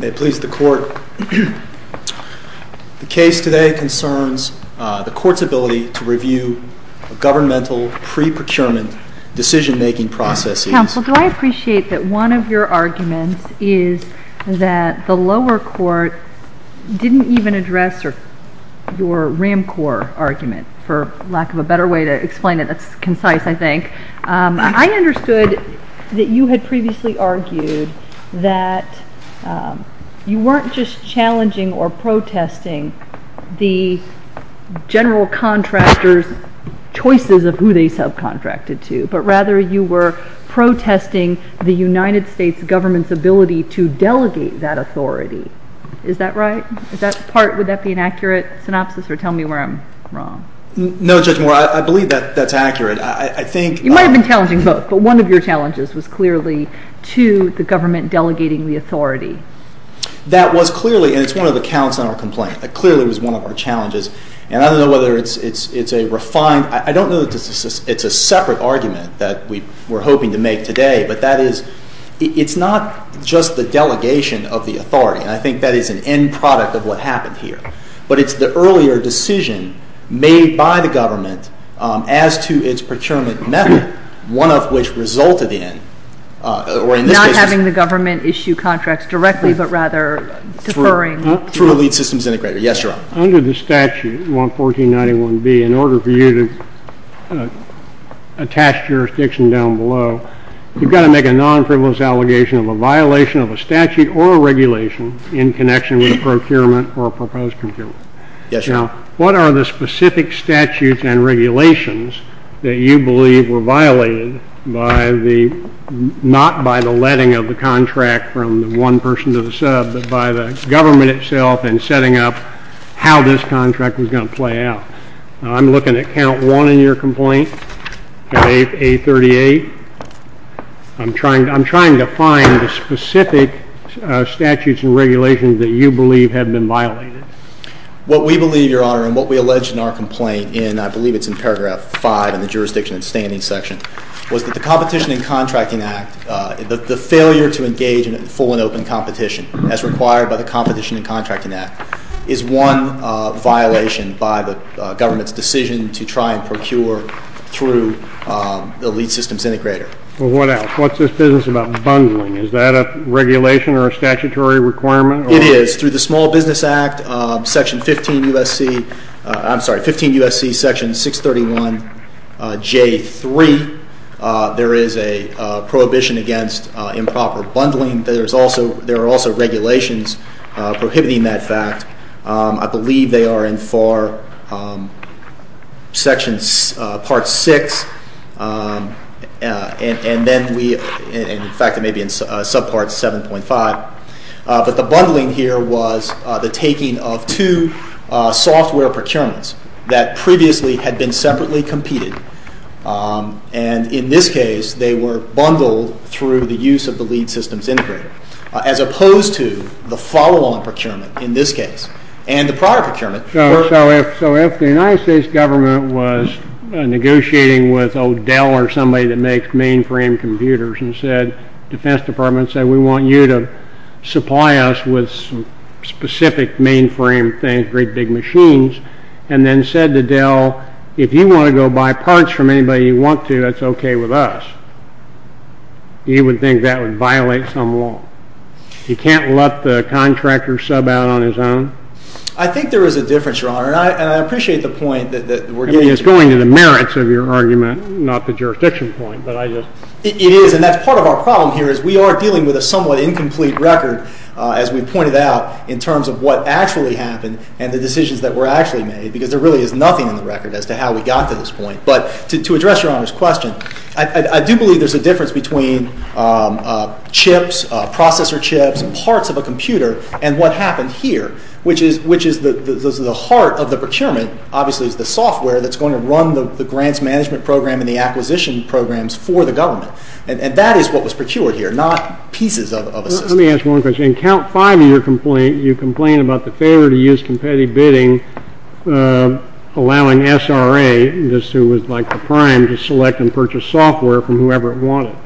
Court. May it please the Court. The case today concerns the Court's ability to review governmental pre-procurement decision-making processes. Counsel, do I appreciate that one of your arguments is that the lower court didn't even address your RAMCOR argument, for lack of a better way to explain it that's concise, I think. I understood that you had previously argued that you weren't just challenging or protesting the general contractor's choices of who they subcontracted to, but rather you were protesting the United States government's ability to delegate that authority. Is that right? Is that part, would that be an accurate synopsis or tell me where I'm wrong? No Judge Moore, I believe that that's accurate. You might have been challenging both, but one of your challenges was clearly to the government delegating the authority. That was clearly, and it's one of the counts on our complaint, that clearly was one of our challenges. And I don't know whether it's a refined, I don't know that it's a separate argument that we're hoping to make today, but that is, it's not just the delegation of the authority, and I think that is an end product of what happened here. But it's the earlier decision made by the government as to its procurement method, one of which resulted in, or in this case... Not having the government issue contracts directly, but rather deferring... Through a lead systems integrator. Yes, Your Honor. Under the statute, 11491B, in order for you to attach jurisdiction down below, you've got to make a non-frivolous allegation of a violation of a statute or a regulation in connection with a procurement or a proposed procurement. Yes, Your Honor. Now, what are the specific statutes and regulations that you believe were violated by the, not by the letting of the contract from the one person to the sub, but by the government itself in setting up how this contract was going to play out? I'm looking at count one in your complaint, at A38. I'm trying to find the specific statutes and regulations that you believe have been violated. What we believe, Your Honor, and what we allege in our complaint, and I believe it's in paragraph five in the jurisdiction and standing section, was that the Competition and Contracting Act, the failure to engage in full and open competition, as required by the Competition and Contracting Act, is one violation by the government's decision to try and procure through the lead systems integrator. Well, what else? What's this business about bundling? Is that a regulation or a statutory requirement? It is. Through the Small Business Act, section 15 U.S.C., I'm sorry, 15 U.S.C. section 631 J3, there is a prohibition against improper bundling. There are also regulations prohibiting that fact. I believe they are in section part six, and in fact it may be in subpart 7.5, but the bundling here was the taking of two software procurements that previously had been separately competed, and in this case they were bundled through the use of the lead systems integrator, as opposed to the follow-on procurement, in this case, and the prior procurement. So if the United States government was negotiating with Dell or somebody that makes mainframe computers and said, the Defense Department said, we want you to supply us with specific mainframe things, great big machines, and then said to Dell, if you want to go buy parts from anybody you want to, that's okay with us, you would think that would violate some law. You can't let the contractor sub out on his own? I think there is a difference, Your Honor, and I appreciate the point that we're getting to. I mean, it's going to the merits of your argument, not the jurisdiction point, but I just. It is, and that's part of our problem here, is we are dealing with a somewhat incomplete record, as we pointed out, in terms of what actually happened and the decisions that were actually made, because there really is nothing in the record as to how we got to this point. But to address Your Honor's question, I do believe there's a difference between chips, processor chips, parts of a computer, and what happened here, which is the heart of the procurement, obviously, is the software that's going to run the grants management program and the acquisition programs for the government. And that is what was procured here, not pieces of a system. Let me ask one question. In count five of your complaint, you complain about the failure to use competitive bidding, allowing SRA, this was like the prime, to select and purchase software from whoever it wanted.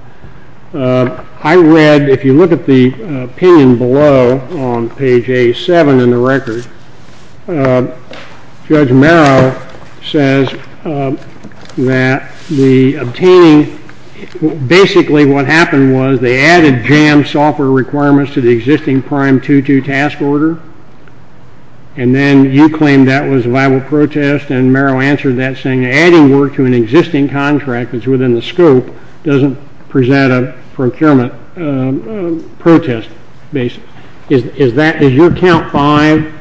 I read, if you look at the opinion below on page A7 in the record, Judge Marrow says that the obtaining, basically what happened was they added JAM software requirements to the viable protest, and Marrow answered that saying adding work to an existing contract that's within the scope doesn't present a procurement protest basis. Is that, is your count five,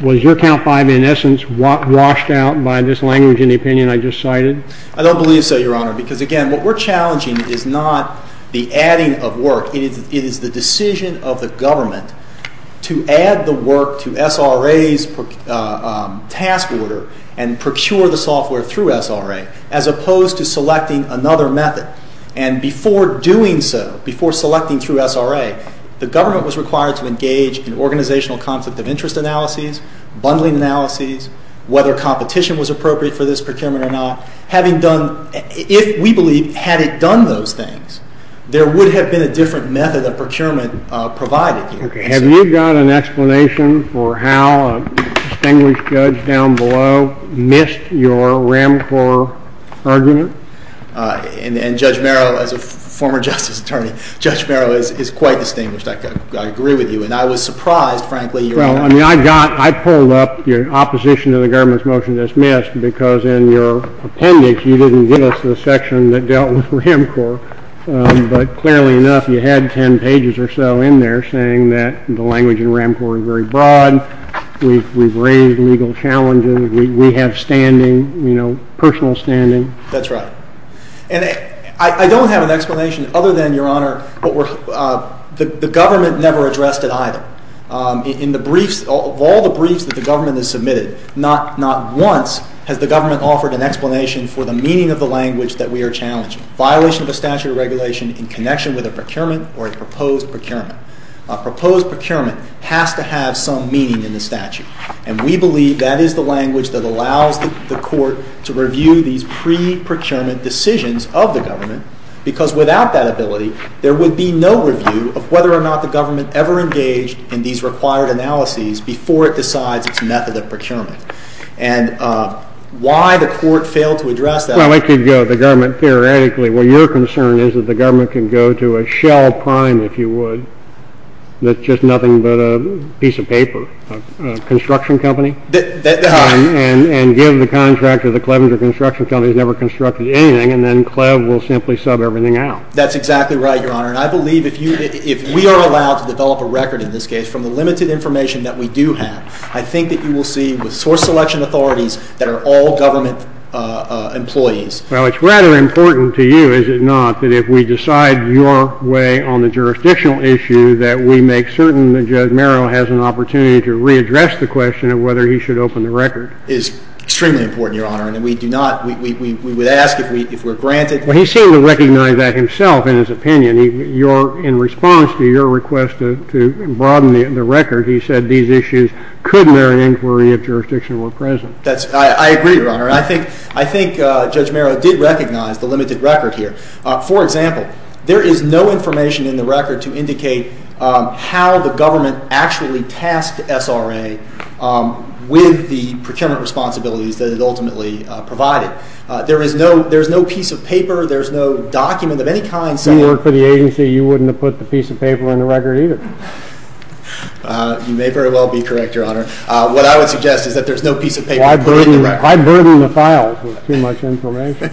was your count five, in essence, washed out by this language in the opinion I just cited? I don't believe so, Your Honor, because again, what we're challenging is not the adding of work, it is the decision of the government to add the work to SRA's task order and procure the software through SRA, as opposed to selecting another method. And before doing so, before selecting through SRA, the government was required to engage in organizational conflict of interest analyses, bundling analyses, whether competition was appropriate for this procurement or not, having done, if we believe, had it done those things, there would have been a different method of procurement provided. Okay. Have you got an explanation for how a distinguished judge down below missed your RAMCOR argument? And Judge Marrow, as a former justice attorney, Judge Marrow is quite distinguished. I agree with you, and I was surprised, frankly, Your Honor. Well, I mean, I got, I pulled up your opposition to the government's motion that's missed because in your appendix, you didn't give us the section that dealt with RAMCOR, but clearly enough, you had 10 pages or so in there saying that the language in RAMCOR is very broad, we've raised legal challenges, we have standing, you know, personal standing. That's right. And I don't have an explanation other than, Your Honor, what we're, the government never addressed it either. In the briefs, of all the briefs that the government has submitted, not once has the government offered an explanation for the meaning of the language that we are challenging. Violation of a statute of regulation in connection with a procurement or a proposed procurement. A proposed procurement has to have some meaning in the statute, and we believe that is the language that allows the court to review these pre-procurement decisions of the government because without that ability, there would be no review of whether or not the government ever engaged in these required analyses before it decides its method of procurement. And why the court failed to address that... Well, it could go to the government theoretically. Well, your concern is that the government can go to a shell prime, if you would, that's just nothing but a piece of paper, a construction company, and give the contract to the Clevenger Construction Company that's never constructed anything, and then Clev will simply sub everything out. That's exactly right, Your Honor, and I believe if we are allowed to develop a record, in this case, from the limited information that we do have, I think that you will see with source selection authorities that are all government employees. Well, it's rather important to you, is it not, that if we decide your way on the jurisdictional issue, that we make certain that Judge Merrill has an opportunity to readdress the question of whether he should open the record. It is extremely important, Your Honor, and we do not, we would ask if we're granted... Well, he seemed to recognize that himself, in his opinion. In response to your request to broaden the record, he said these issues could merit inquiry if jurisdiction were present. I agree, Your Honor. I think Judge Merrill did recognize the limited record here. For example, there is no information in the record to indicate how the government actually tasked SRA with the procurement responsibilities that it ultimately provided. There is no piece of paper, there is no document of any kind saying... If you worked for the agency, you wouldn't have put the piece of paper in the record either. You may very well be correct, Your Honor. What I would suggest is that there is no piece of paper to put in the record. Why burden the files with too much information?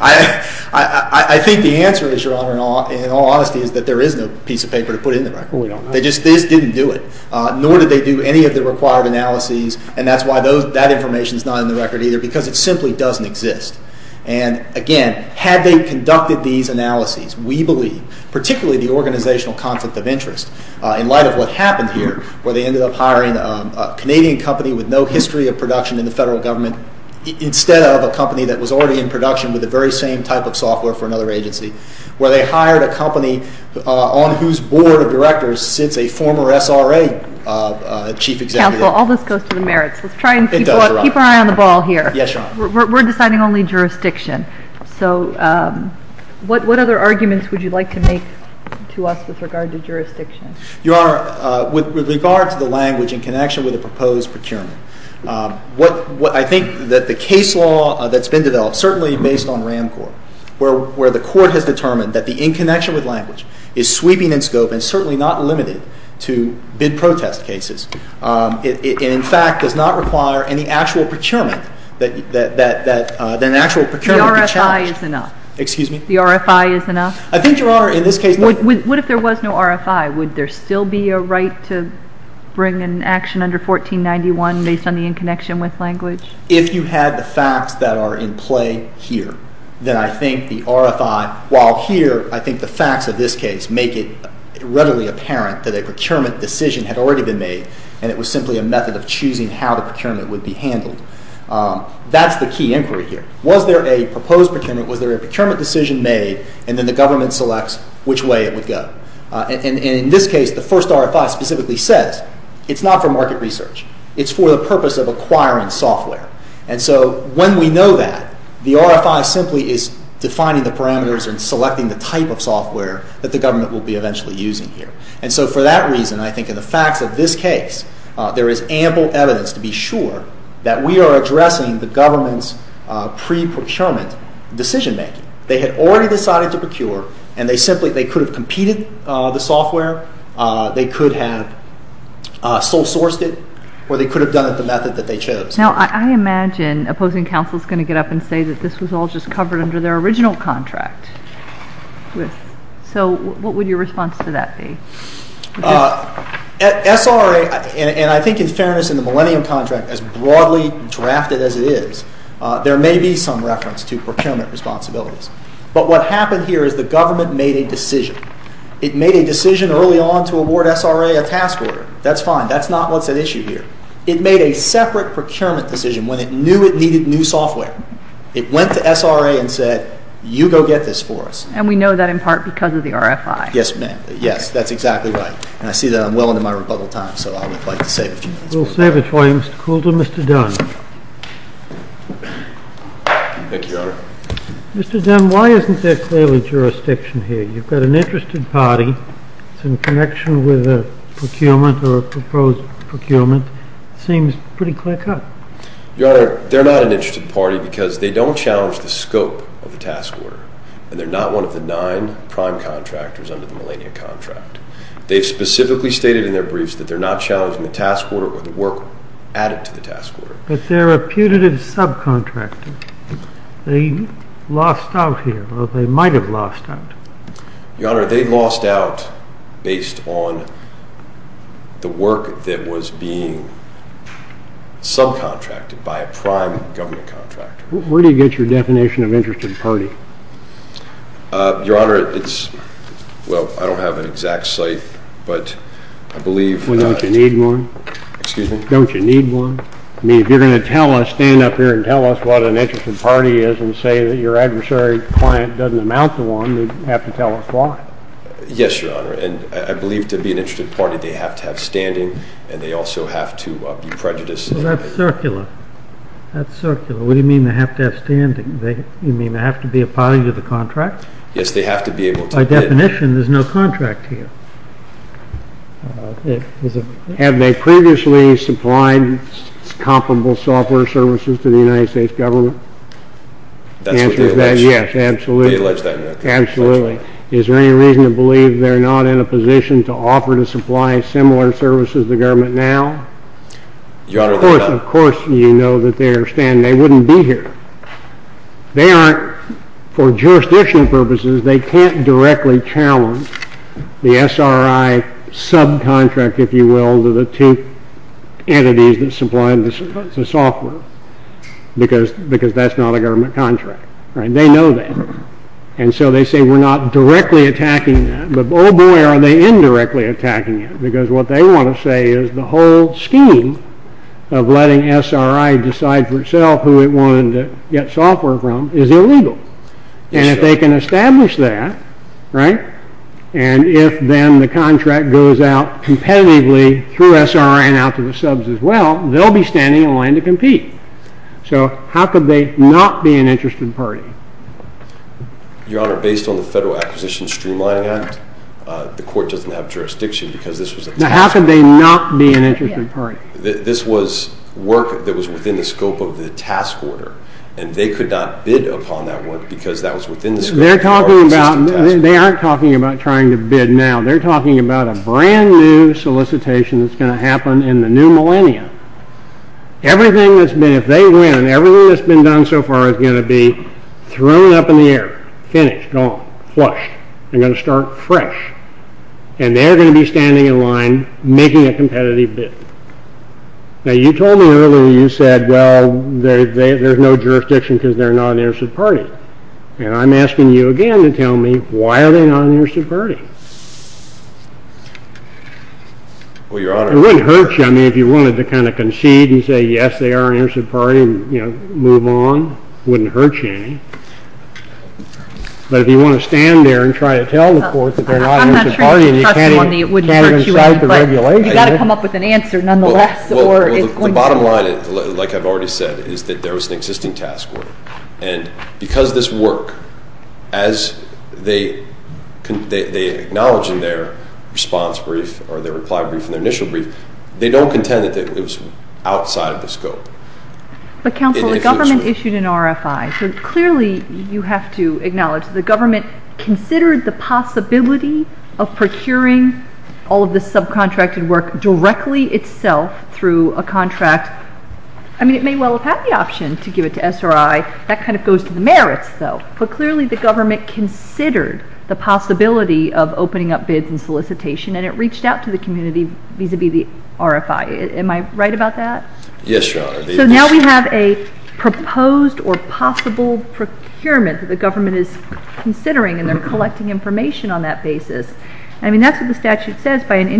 I think the answer is, Your Honor, in all honesty, is that there is no piece of paper to put in the record. Well, we don't know. They just didn't do it, nor did they do any of the required analyses, and that's why that information is not in the record either, because it simply doesn't exist. And again, had they conducted these analyses, we believe, particularly the organizational conflict of interest, in light of what happened here, where they ended up hiring a Canadian company with no history of production in the federal government, instead of a company that was already in production with the very same type of software for another agency, where they hired a company on whose board of directors sits a former SRA chief executive. Counsel, all this goes to the merits. It does, Your Honor. Let's try and keep our eye on the ball here. Yes, Your Honor. We're deciding only jurisdiction. So what other arguments would you like to make to us with regard to jurisdiction? Your Honor, with regard to the language in connection with the proposed procurement, I think that the case law that's been developed, certainly based on RAMCORP, where the court has determined that the in connection with language is sweeping in scope and certainly not limited to bid protest cases. It, in fact, does not require any actual procurement that an actual procurement could challenge. The RFI is enough. Excuse me? The RFI is enough? I think Your Honor, in this case... What if there was no RFI? Would there still be a right to bring an action under 1491 based on the in connection with language? If you had the facts that are in play here, then I think the RFI, while here, I think the facts of this case make it readily apparent that a procurement decision had already been made, and it was simply a method of choosing how the procurement would be handled. That's the key inquiry here. Was there a proposed procurement? Was there a procurement decision made? And then the government selects which way it would go. And in this case, the first RFI specifically says, it's not for market research. It's for the purpose of acquiring software. And so when we know that, the RFI simply is defining the parameters and selecting the type of software that the government will be eventually using here. And so for that reason, I think in the facts of this case, there is ample evidence to be sure that we are addressing the government's pre-procurement decision making. They had already decided to procure, and they could have competed the software, they could have sole sourced it, or they could have done it the method that they chose. Now, I imagine opposing counsel is going to get up and say that this was all just covered under their original contract. So what would your response to that be? At SRA, and I think in fairness in the Millennium Contract, as broadly drafted as it is, there may be some reference to procurement responsibilities. But what happened here is the government made a decision. It made a decision early on to award SRA a task order. That's fine. That's not what's at issue here. It made a separate procurement decision when it knew it needed new software. It went to SRA and said, you go get this for us. And we know that in part because of the RFI. Yes, ma'am. Yes. That's exactly right. And I see that I'm well into my rebuttal time, so I would like to save a few minutes. We'll save it for you, Mr. Coulter. Mr. Dunn. Thank you, Your Honor. Mr. Dunn, why isn't there clearly jurisdiction here? You've got an interested party. It's in connection with a procurement or a proposed procurement. It seems pretty clear-cut. Your Honor, they're not an interested party because they don't challenge the scope of the task order. And they're not one of the nine prime contractors under the millennia contract. They've specifically stated in their briefs that they're not challenging the task order or the work added to the task order. But they're a putative subcontractor. They lost out here, or they might have lost out. Your Honor, they lost out based on the work that was being subcontracted by a prime government contractor. Where do you get your definition of interested party? Your Honor, it's – well, I don't have an exact site, but I believe – Well, don't you need one? Excuse me? Don't you need one? I mean, if you're going to stand up here and tell us what an interested party is and say that your adversary client doesn't amount to one, you'd have to tell us why. Yes, Your Honor. And I believe to be an interested party, they have to have standing. And they also have to be prejudiced. Well, that's circular. That's circular. What do you mean they have to have standing? You mean they have to be a party to the contract? Yes, they have to be able to bid. By definition, there's no contract here. Have they previously supplied comparable software services to the United States government? That's what they allege. Yes, absolutely. They allege that. Absolutely. Is there any reason to believe they're not in a position to offer to supply similar services to the government now? Your Honor, they're not. Of course you know that they are standing. They wouldn't be here. They aren't – for jurisdictional purposes, they can't directly challenge the SRI subcontract, if you will, to the two entities that supply the software. Because that's not a government contract. They know that. And so they say we're not directly attacking that. But, oh boy, are they indirectly attacking it. Because what they want to say is the whole scheme of letting SRI decide for itself who it wanted to get software from is illegal. And if they can establish that, and if then the contract goes out competitively through SRI and out to the subs as well, they'll be standing in line to compete. So how could they not be an interested party? Your Honor, based on the Federal Acquisition Streamlining Act, the court doesn't have jurisdiction because this was a task order. Now how could they not be an interested party? This was work that was within the scope of the task order. And they could not bid upon that work because that was within the scope of our existing task order. They're talking about – they aren't talking about trying to bid now. They're talking about a brand new solicitation that's going to happen in the new millennium. Everything that's been – if they win, everything that's been done so far is going to be thrown up in the air. Finished. Gone. Flushed. They're going to start fresh. And they're going to be standing in line making a competitive bid. Now you told me earlier, you said, well, there's no jurisdiction because they're not an interested party. And I'm asking you again to tell me, why are they not an interested party? Well, Your Honor – It wouldn't hurt you, I mean, if you wanted to kind of concede and say, yes, they are an interested party and, you know, move on. It wouldn't hurt you any. But if you want to stand there and try to tell the court that they're not an interested party, and you can't even – I'm not trying to trust you on the it wouldn't hurt you end, but you've got to come up with an answer nonetheless, or it's going to – Well, the bottom line, like I've already said, is that there was an existing task order. And because this work, as they acknowledge in their response brief or their reply brief and their initial brief, they don't contend that it was outside of the scope. But, counsel, the government issued an RFI. So clearly you have to acknowledge the government considered the possibility of procuring all of this subcontracted work directly itself through a contract. I mean, it may well have had the option to give it to SRI. That kind of goes to the merits, though. But clearly the government considered the possibility of opening up bids and solicitation and it reached out to the community vis-à-vis the RFI. Am I right about that? Yes, Your Honor. So now we have a proposed or possible procurement that the government is considering and they're collecting information on that basis. I mean, that's what the statute says. But, Your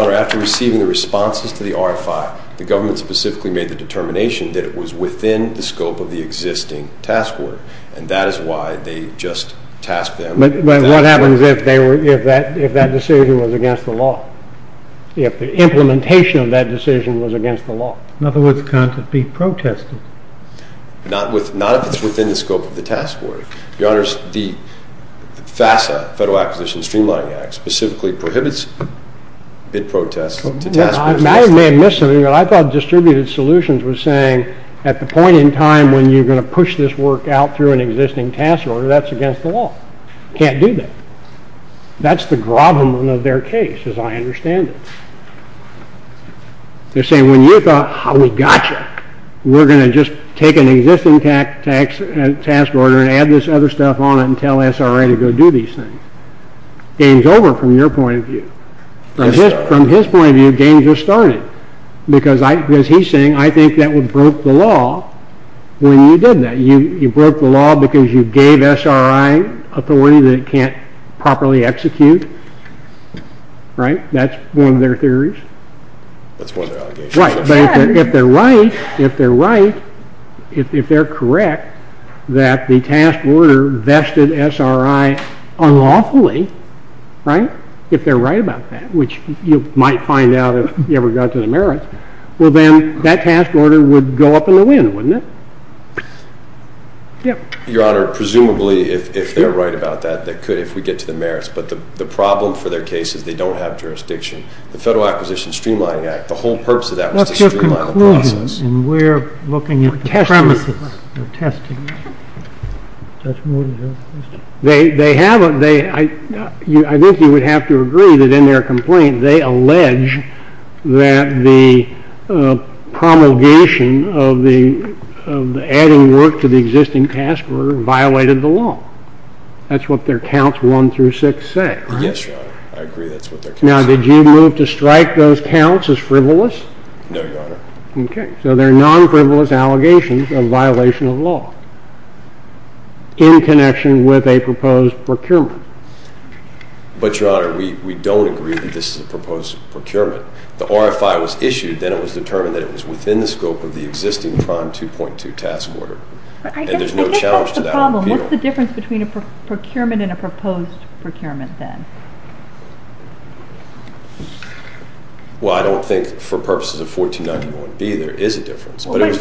Honor, after receiving the responses to the RFI, the government specifically made the determination that it was within the scope of the existing task order. And that is why they just tasked them with that. But what happens if that decision was against the law? If the implementation of that decision was against the law? It can't be protested. Not if it's within the scope of the task order. Your Honor, the FASA, Federal Acquisition Streamlining Act, specifically prohibits bid protests to task... I may have missed something, but I thought Distributed Solutions was saying at the point in time when you're going to push this work out through an existing task order, that's against the law. Can't do that. That's the gravamen of their case, as I understand it. They're saying, when you thought, we got you, we're going to just take an existing task order and add this other stuff on it and tell SRI to go do these things. Game's over from your point of view. From his point of view, game just started. Because he's saying, I think that would broke the law when you did that. You broke the law because you gave SRI authority that it can't properly execute. Right? That's one of their theories. That's one of their allegations. But if they're right, if they're correct, that the task order vested SRI unlawfully, if they're right about that, which you might find out if you ever got to the merits, well then, that task order would go up in the wind, wouldn't it? Your Honor, presumably, if they're right about that, if we get to the merits, but the problem for their case is they don't have jurisdiction. The Federal Acquisition Streamlining Act, the whole purpose of that was to streamline the process. That's just a conclusion, and we're looking at the premises. I think you would have to agree that in their complaint, they allege that the promulgation of the adding work to the existing task order violated the law. That's what their counts one through six say. Yes, Your Honor. I agree that's what their counts say. Now, did you move to strike those counts as frivolous? No, Your Honor. Okay. So they're non-frivolous allegations of violation of law in connection with a proposed procurement. But, Your Honor, we don't agree that this is a proposed procurement. The RFI was issued, then it was determined that it was within the scope of the existing Prime 2.2 task order. I guess that's the problem. What's the difference between a procurement and a proposed procurement, then? Well, I don't think for purposes of 1491B there is a difference. Wait, wait,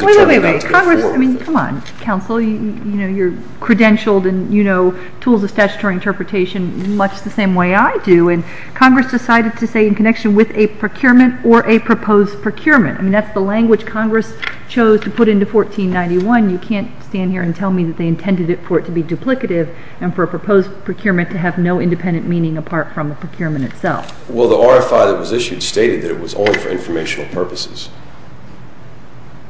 wait. Congress, I mean, come on, counsel. You're credentialed and you know tools of statutory interpretation much the same way I do, and Congress decided to say in connection with a procurement or a proposed procurement. I mean, that's the language Congress chose to put into 1491. You can't stand here and tell me that they intended it for it to be duplicative and for a proposed procurement to have no independent meaning apart from a procurement itself. Well, the RFI that was issued stated that it was only for informational purposes.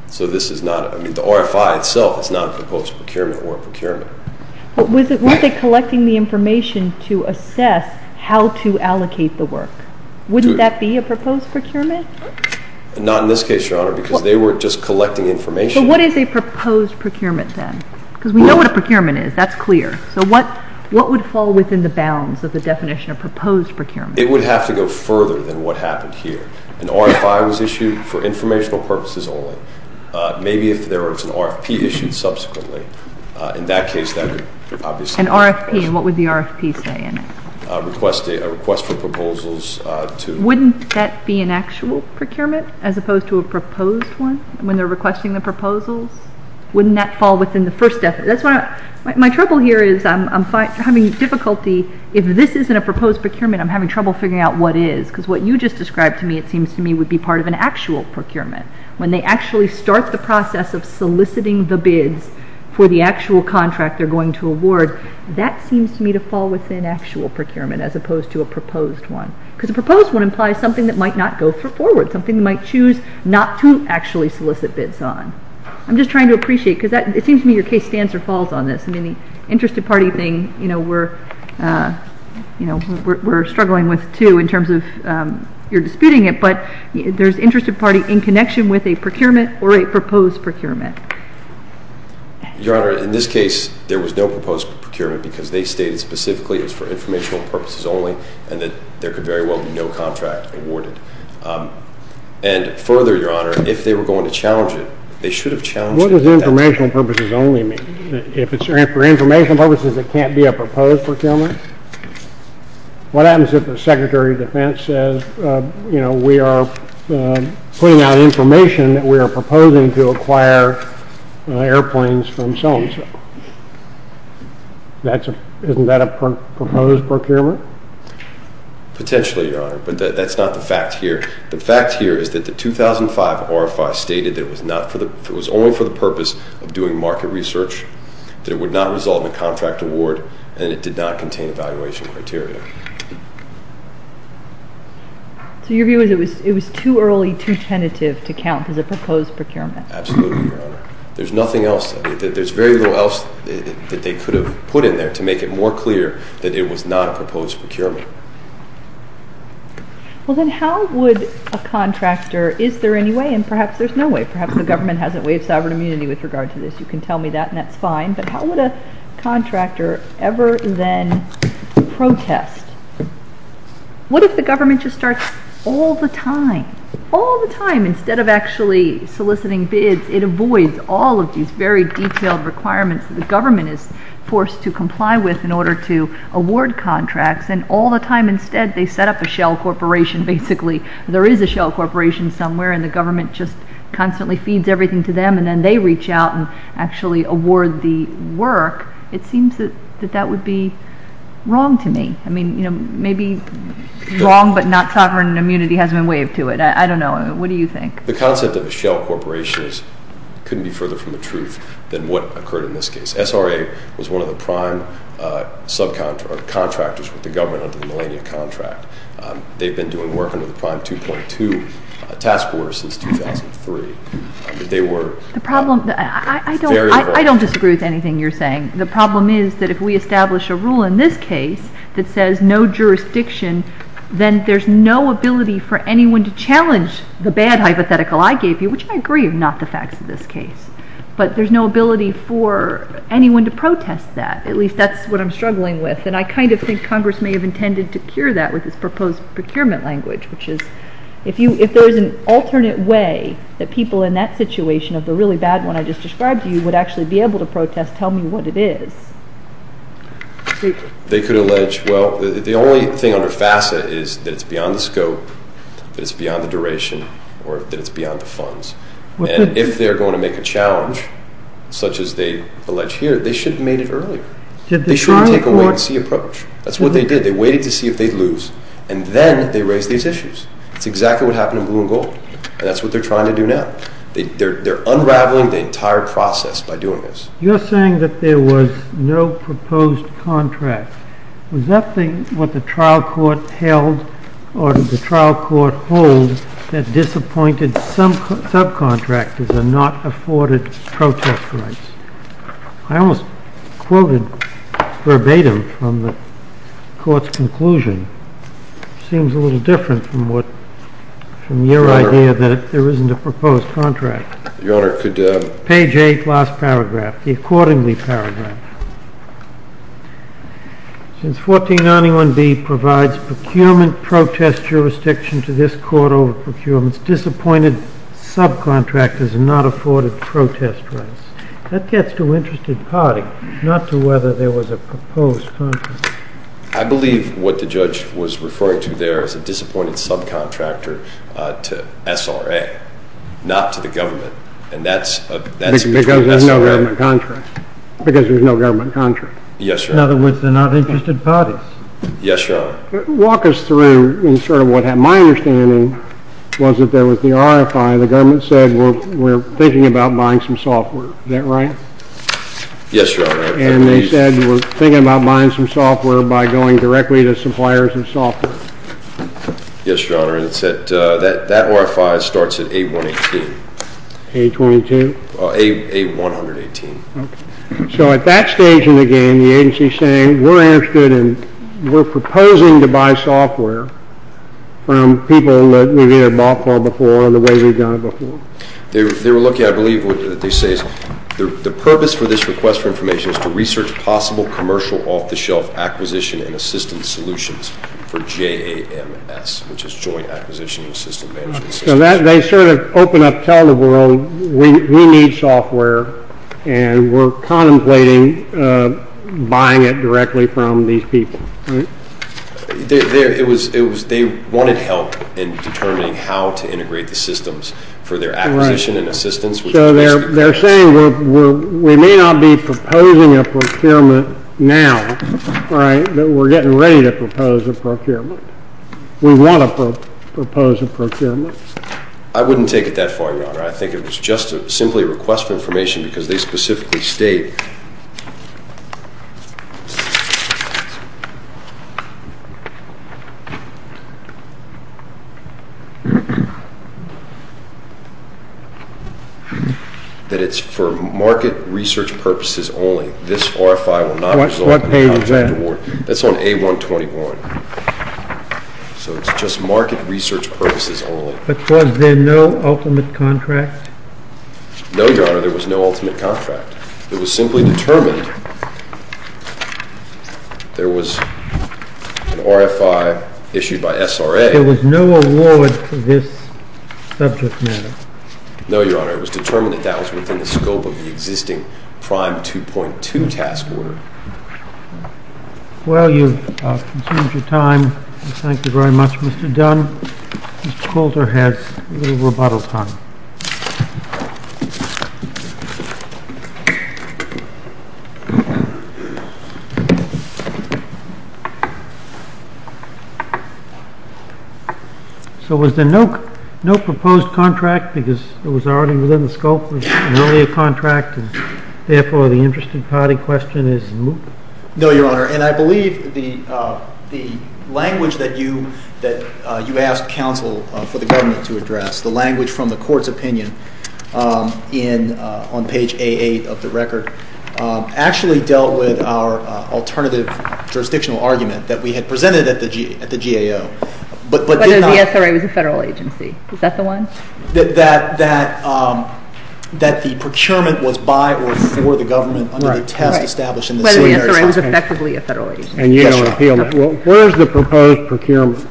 So this is not, I mean, the RFI itself is not a proposed procurement or a procurement. But weren't they collecting the information to assess how to allocate the work? Wouldn't that be a proposed procurement? Not in this case, Your Honor, because they were just collecting information. But what is a proposed procurement, then? Because we know what a procurement is. That's clear. So what would fall within the bounds of the definition of a proposed procurement? It would have to go further than what happened here. An RFI was issued for informational purposes only. Maybe if there was an RFP issued subsequently, in that case that could obviously... An RFP, and what would the RFP say in it? A request for proposals to... Wouldn't that be an actual procurement as opposed to a proposed one when they're requesting the proposals? Wouldn't that fall within the first definition? My trouble here is I'm having difficulty if this isn't a proposed procurement, I'm having trouble figuring out what is. Because what you just described to me, it seems to me, would be part of an actual procurement. When they actually start the process of soliciting the bids for the actual contract they're going to award, that seems to me to fall within actual procurement as opposed to a proposed one. Because a proposed one implies something that might not go forward. Something they might choose not to actually solicit bids on. I'm just trying to appreciate because it seems to me your case stands or falls on this. The interested party thing we're struggling with, too, in terms of you're disputing it, but there's interested party in connection with a procurement or a proposed procurement. Your Honor, in this case, there was no proposed procurement because they stated specifically it was for informational purposes only and that there could very well be no contract awarded. And further, Your Honor, if they were going to challenge it, they should have challenged it. What does informational purposes only mean? If it's for informational purposes, it can't be a proposed procurement? What happens if the Secretary of Defense says we are putting out information that we are proposing to acquire airplanes from so-and-so? Isn't that a proposed procurement? Potentially, Your Honor, but that's not the fact here. The fact here is that the 2005 RFR stated that it was only for the purpose of doing market research, that it would not result in a contract award, and it did not contain evaluation criteria. So your view is it was too early, too tentative to count as a proposed procurement? Absolutely, Your Honor. There's nothing else. There's very little else that they could have put in there to make it more clear that it was not a proposed procurement. Well, then how would a contractor – is there any way? And perhaps there's no way. Perhaps the government hasn't waived sovereign immunity with regard to this. You can tell me that, and that's fine. But how would a contractor ever then protest? What if the government just starts all the time, all the time, instead of actually soliciting bids? It avoids all of these very detailed requirements that the government is forced to comply with in order to all the time, instead, they set up a shell corporation, basically. There is a shell corporation somewhere, and the government just constantly feeds everything to them, and then they reach out and actually award the work. It seems that that would be wrong to me. I mean, you know, maybe wrong but not sovereign immunity hasn't been waived to it. I don't know. What do you think? The concept of a shell corporation couldn't be further from the truth than what occurred in this case. SRA was one of the prime subcontractors with the government under the Millennium Contract. They've been doing work under the Prime 2.2 task force since 2003. They were... I don't disagree with anything you're saying. The problem is that if we establish a rule in this case that says no jurisdiction, then there's no ability for anyone to challenge the bad hypothetical I gave you, which I agree with, not the facts of this case. But there's no ability for anyone to And I kind of think Congress may have intended to cure that with its proposed procurement language, which is, if there's an alternate way that people in that situation of the really bad one I just described to you would actually be able to protest tell me what it is. They could allege, well, the only thing under FASA is that it's beyond the scope, that it's beyond the duration, or that it's beyond the funds. And if they're going to make a challenge, such as they allege here, they should have made it earlier. They shouldn't take a wait-and-see approach. That's what they did. They waited to see if they'd lose. And then they raised these issues. That's exactly what happened in Blue and Gold. And that's what they're trying to do now. They're unraveling the entire process by doing this. You're saying that there was no proposed contract. Was that what the trial court held or did the trial court hold that disappointed some subcontractors and not afforded protest rights? I almost quoted verbatim from the court's conclusion. It seems a little different from your idea that there isn't a proposed contract. Page 8, last paragraph, the accordingly paragraph. Since 1491B provides procurement protest jurisdiction to this court over procurement's disappointed subcontractors and not afforded protest rights, that gets to interested parties, not to whether there was a proposed contract. I believe what the judge was referring to there is a disappointed subcontractor to SRA, not to the government. And that's between SRA... Because there's no government contract. Yes, Your Honor. In other words, they're not interested parties. Yes, Your Honor. Walk us through sort of what happened. My understanding was that there was the RFI. The government said we're thinking about buying some software. Is that right? Yes, Your Honor. And they said we're thinking about buying some software by going directly to suppliers of software. Yes, Your Honor. And it said that RFI starts at A118. A22? A118. So at that stage in the game, the agency's saying we're interested and we're proposing to buy software from people that we've either bought software before or the way we've done it before. They were looking, I believe, they say the purpose for this request for information is to research possible commercial off-the-shelf acquisition and assistance solutions for JAMS, which is Joint Acquisition and System Management System. So they sort of open up, tell the world we need software and we're contemplating buying it directly from these people. They wanted help in determining how to integrate the systems for their acquisition and assistance. So they're saying we may not be proposing a procurement now, but we're getting ready to propose a procurement. We want to propose a procurement. I wouldn't take it that far, Your Honor. I think it was just simply a request for information because they specifically state that it's for market research purposes only. This RFI will not result in a contract award. That's on A121. So it's just market research purposes only. But was there no ultimate contract? No, Your Honor, there was no ultimate contract. It was simply determined there was an RFI issued by SRA There was no award for this subject matter? No, Your Honor. It was determined that that was within the scope of the existing Prime 2.2 task order. Well, you've consumed your time. Thank you very much, Mr. Dunn. Mr. Coulter has a little rebuttal time. So was there no proposed contract because it was already within the scope of an earlier contract and therefore the interested party question is moot? No, Your Honor, and I believe the language that you asked counsel for the government to address, the language from the court's opinion on page A8 of the record, actually dealt with our alternative jurisdictional argument that we had presented at the GAO. Whether the SRA was a federal agency. Is that the one? That the procurement was by or for the government under the test established in the Senate. Whether the SRA was effectively a federal agency. Where is the proposed procurement?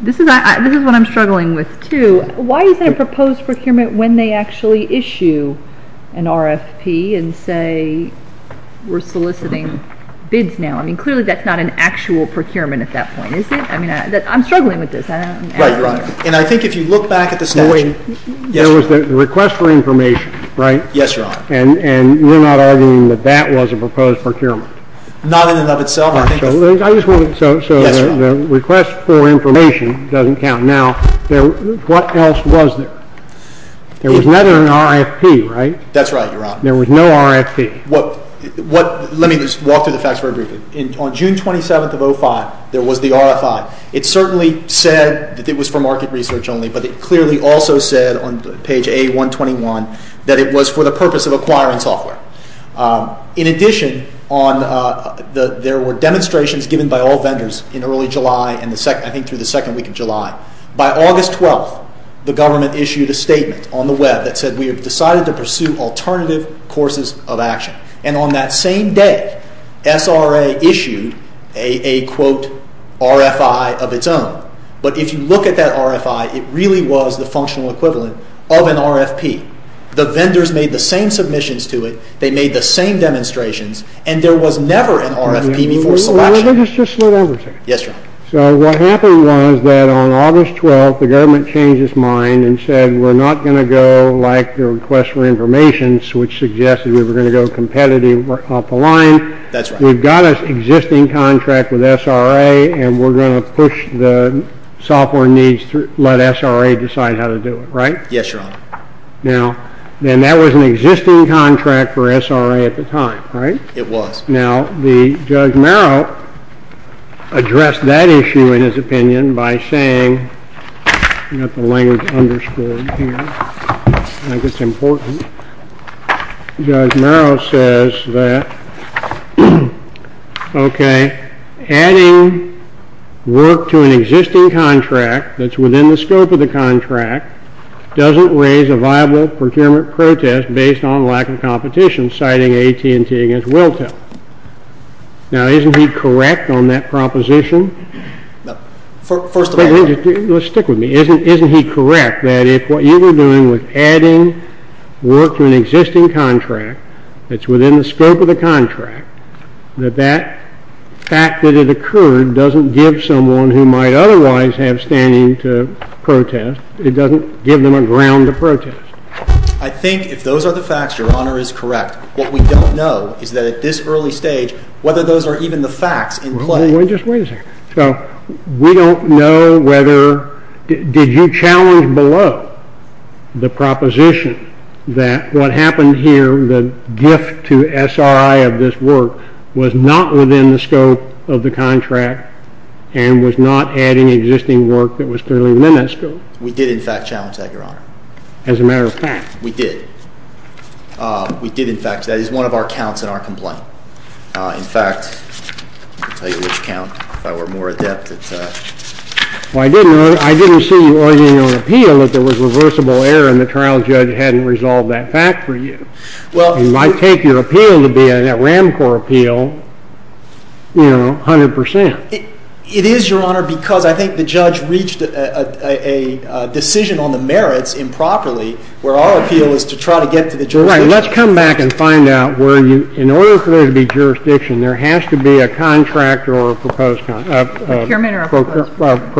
This is what I'm struggling with too. Why is there a proposed procurement when they actually issue an RFP and say we're soliciting bids now? I mean, clearly that's not an actual procurement at that point, is it? I'm struggling with this. And I think if you look back at the statute There was the request for information, right? Yes, Your Honor. And we're not arguing that that was a proposed procurement. Not in and of itself. So the request for information doesn't count. Now what else was there? There was never an RFP, right? That's right, Your Honor. There was no RFP. Let me just walk through the facts very briefly. On June 27th of 2005, there was the RFI. It certainly said that it was for market research only, but it clearly also said on page A121 that it was for the purpose of acquiring software. In addition there were demonstrations given by all vendors in early July and I think through the second week of July. By August 12th the government issued a statement on the web that said we have decided to pursue alternative courses of action. And on that same day SRA issued a quote, RFI of its own. But if you look at that RFI it really was the functional equivalent of an RFP. The vendors made the same submissions to it they made the same demonstrations and there was never an RFP before selection. Let me just slow down for a second. Yes, Your Honor. So what happened was that on August 12th the government changed its mind and said we're not going to go like the request for information which suggested we were going to go competitive off the line. That's right. We've got an existing contract with SRA and we're going to push the software needs through and let SRA decide how to do it, right? Yes, Your Honor. Now that was an existing contract for SRA at the time, right? It was. Now the Judge Merrill addressed that issue in his opinion by saying I've got the language underscored here I think it's important Judge Merrill says that ok, adding work to an existing contract that's within the scope of the contract doesn't raise a viable procurement protest based on lack of competition Now isn't he correct on that proposition? First of all Let's stick with me. Isn't he correct that if what you were doing was adding work to an existing contract that's within the scope of the contract that that fact that it occurred doesn't give someone who might otherwise have standing to protest. It doesn't give them a ground to protest. I think if those are the facts, Your Honor, is correct what we don't know is that at this early stage whether those are even the facts in play. Just wait a second. So we don't know whether, did you challenge below the proposition that what happened here, the gift to SRI of this work was not within the scope of the contract and was not adding existing work that was clearly miniscule. We did in fact challenge that, Your Honor. As a matter of fact. We did. We did in fact. That is one of our counts in our complaint. In fact I'll tell you which count if I were more adept at Well, I didn't see you arguing on appeal that there was reversible error and the trial judge hadn't resolved that fact for you. It might take your appeal to be a RAMCOR appeal you know 100%. It is, Your Honor, because I think the judge reached a decision on the merits improperly where our appeal is to try to get to the jurisdiction. Right. Let's come back and find out where you In order for there to be jurisdiction, there has to be a contract or a proposed contract. Procurement or a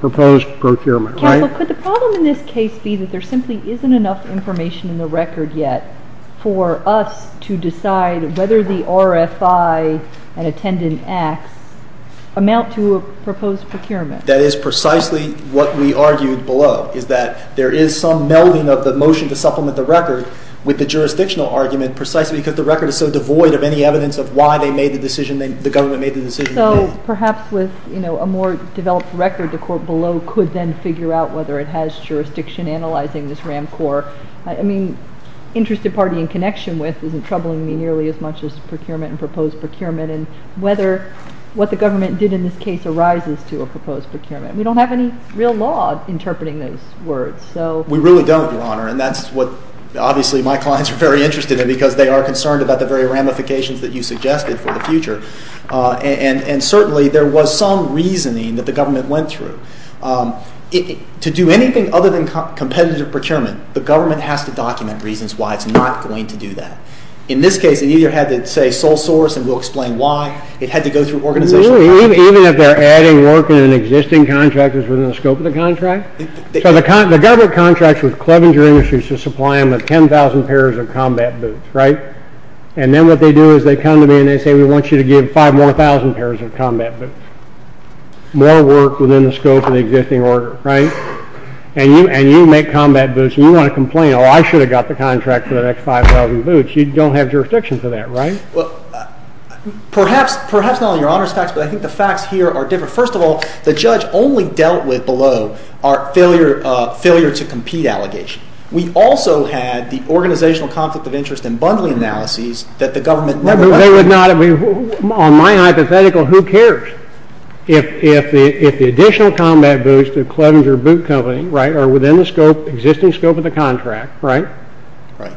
proposed procurement. Counsel, could the problem in this case be that there simply isn't enough information in the record yet for us to decide whether the RFI and attendant acts amount to a proposed procurement? That is precisely what we argued below, is that there is some melding of the motion to supplement the record with the jurisdictional argument precisely because the record is so devoid of any evidence of why they made the decision, the government made the decision. So perhaps with a more developed record, the court below could then figure out whether it has jurisdiction analyzing this RAMCOR. I mean, interested party in connection with isn't troubling me nearly as much as procurement and proposed procurement and whether what the government did in this case arises to a proposed procurement. We don't have any real law interpreting those words. We really don't, Your Honor, and that's what my clients are very interested in because they are concerned about the very ramifications that you suggested for the future. And certainly there was some reasoning that the government went through. To do anything other than competitive procurement, the government has to document reasons why it's not going to do that. In this case, it either had to say sole source and we'll explain why, it had to go through organizational... Even if they're adding work in an existing contract that's within the scope of the contract? So the government contracts with Clevenger Industries to supply them with 10,000 pairs of combat boots, right? And then what they do is they come to me and they say, we want you to give 5 more thousand pairs of combat boots. More work within the scope of the existing order, right? And you make combat boots and you want to complain, oh, I should have got the contract for the next 5,000 boots. You don't have jurisdiction for that, right? not on Your Honor's facts, but I think the facts here are different. First of all, the judge only dealt with below our failure to compete allegation. We also had the organizational conflict of interest and bundling analyses that the government... On my hypothetical, who cares? If the additional combat boots to Clevenger Boot Company are within the existing scope of the contract,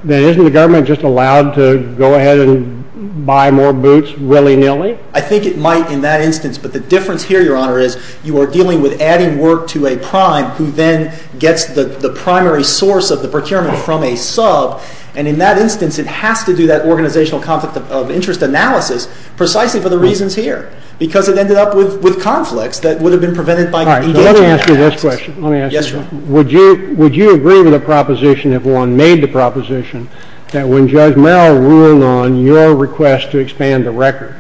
then isn't the government just allowed to go ahead and buy more boots willy-nilly? I think it might in that instance, but the difference here, Your Honor, is you are dealing with adding work to a prime who then gets the primary source of the procurement from a sub and in that instance, it has to do that organizational conflict of interest analysis precisely for the reasons here because it ended up with conflicts that would have been prevented by... Let me ask you this question. Would you agree with the proposition, if one made the proposition, that when Judge Merrill ruled on your request to expand the record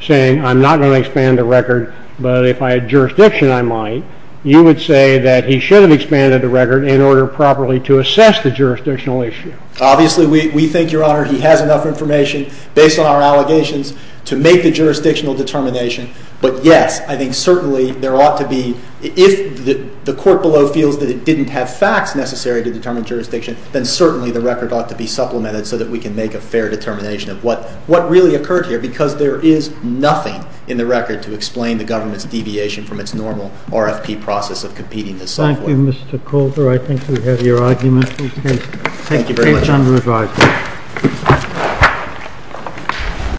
saying, I'm not going to expand the record, but if I had jurisdiction I might, you would say that he should have expanded the record in order properly to assess the jurisdictional issue? Obviously, we think, Your Honor, he has enough information based on our allegations to make the jurisdictional determination, but yes, I think certainly there ought to be... If the court below feels that it didn't have facts necessary to determine jurisdiction, then certainly the record ought to be supplemented so that we can make a fair determination of what really occurred here because there is nothing in the record to explain the government's deviation from its normal RFP process of competing this software. Thank you, Mr. Calder. I think we have your argument. Thank you very much.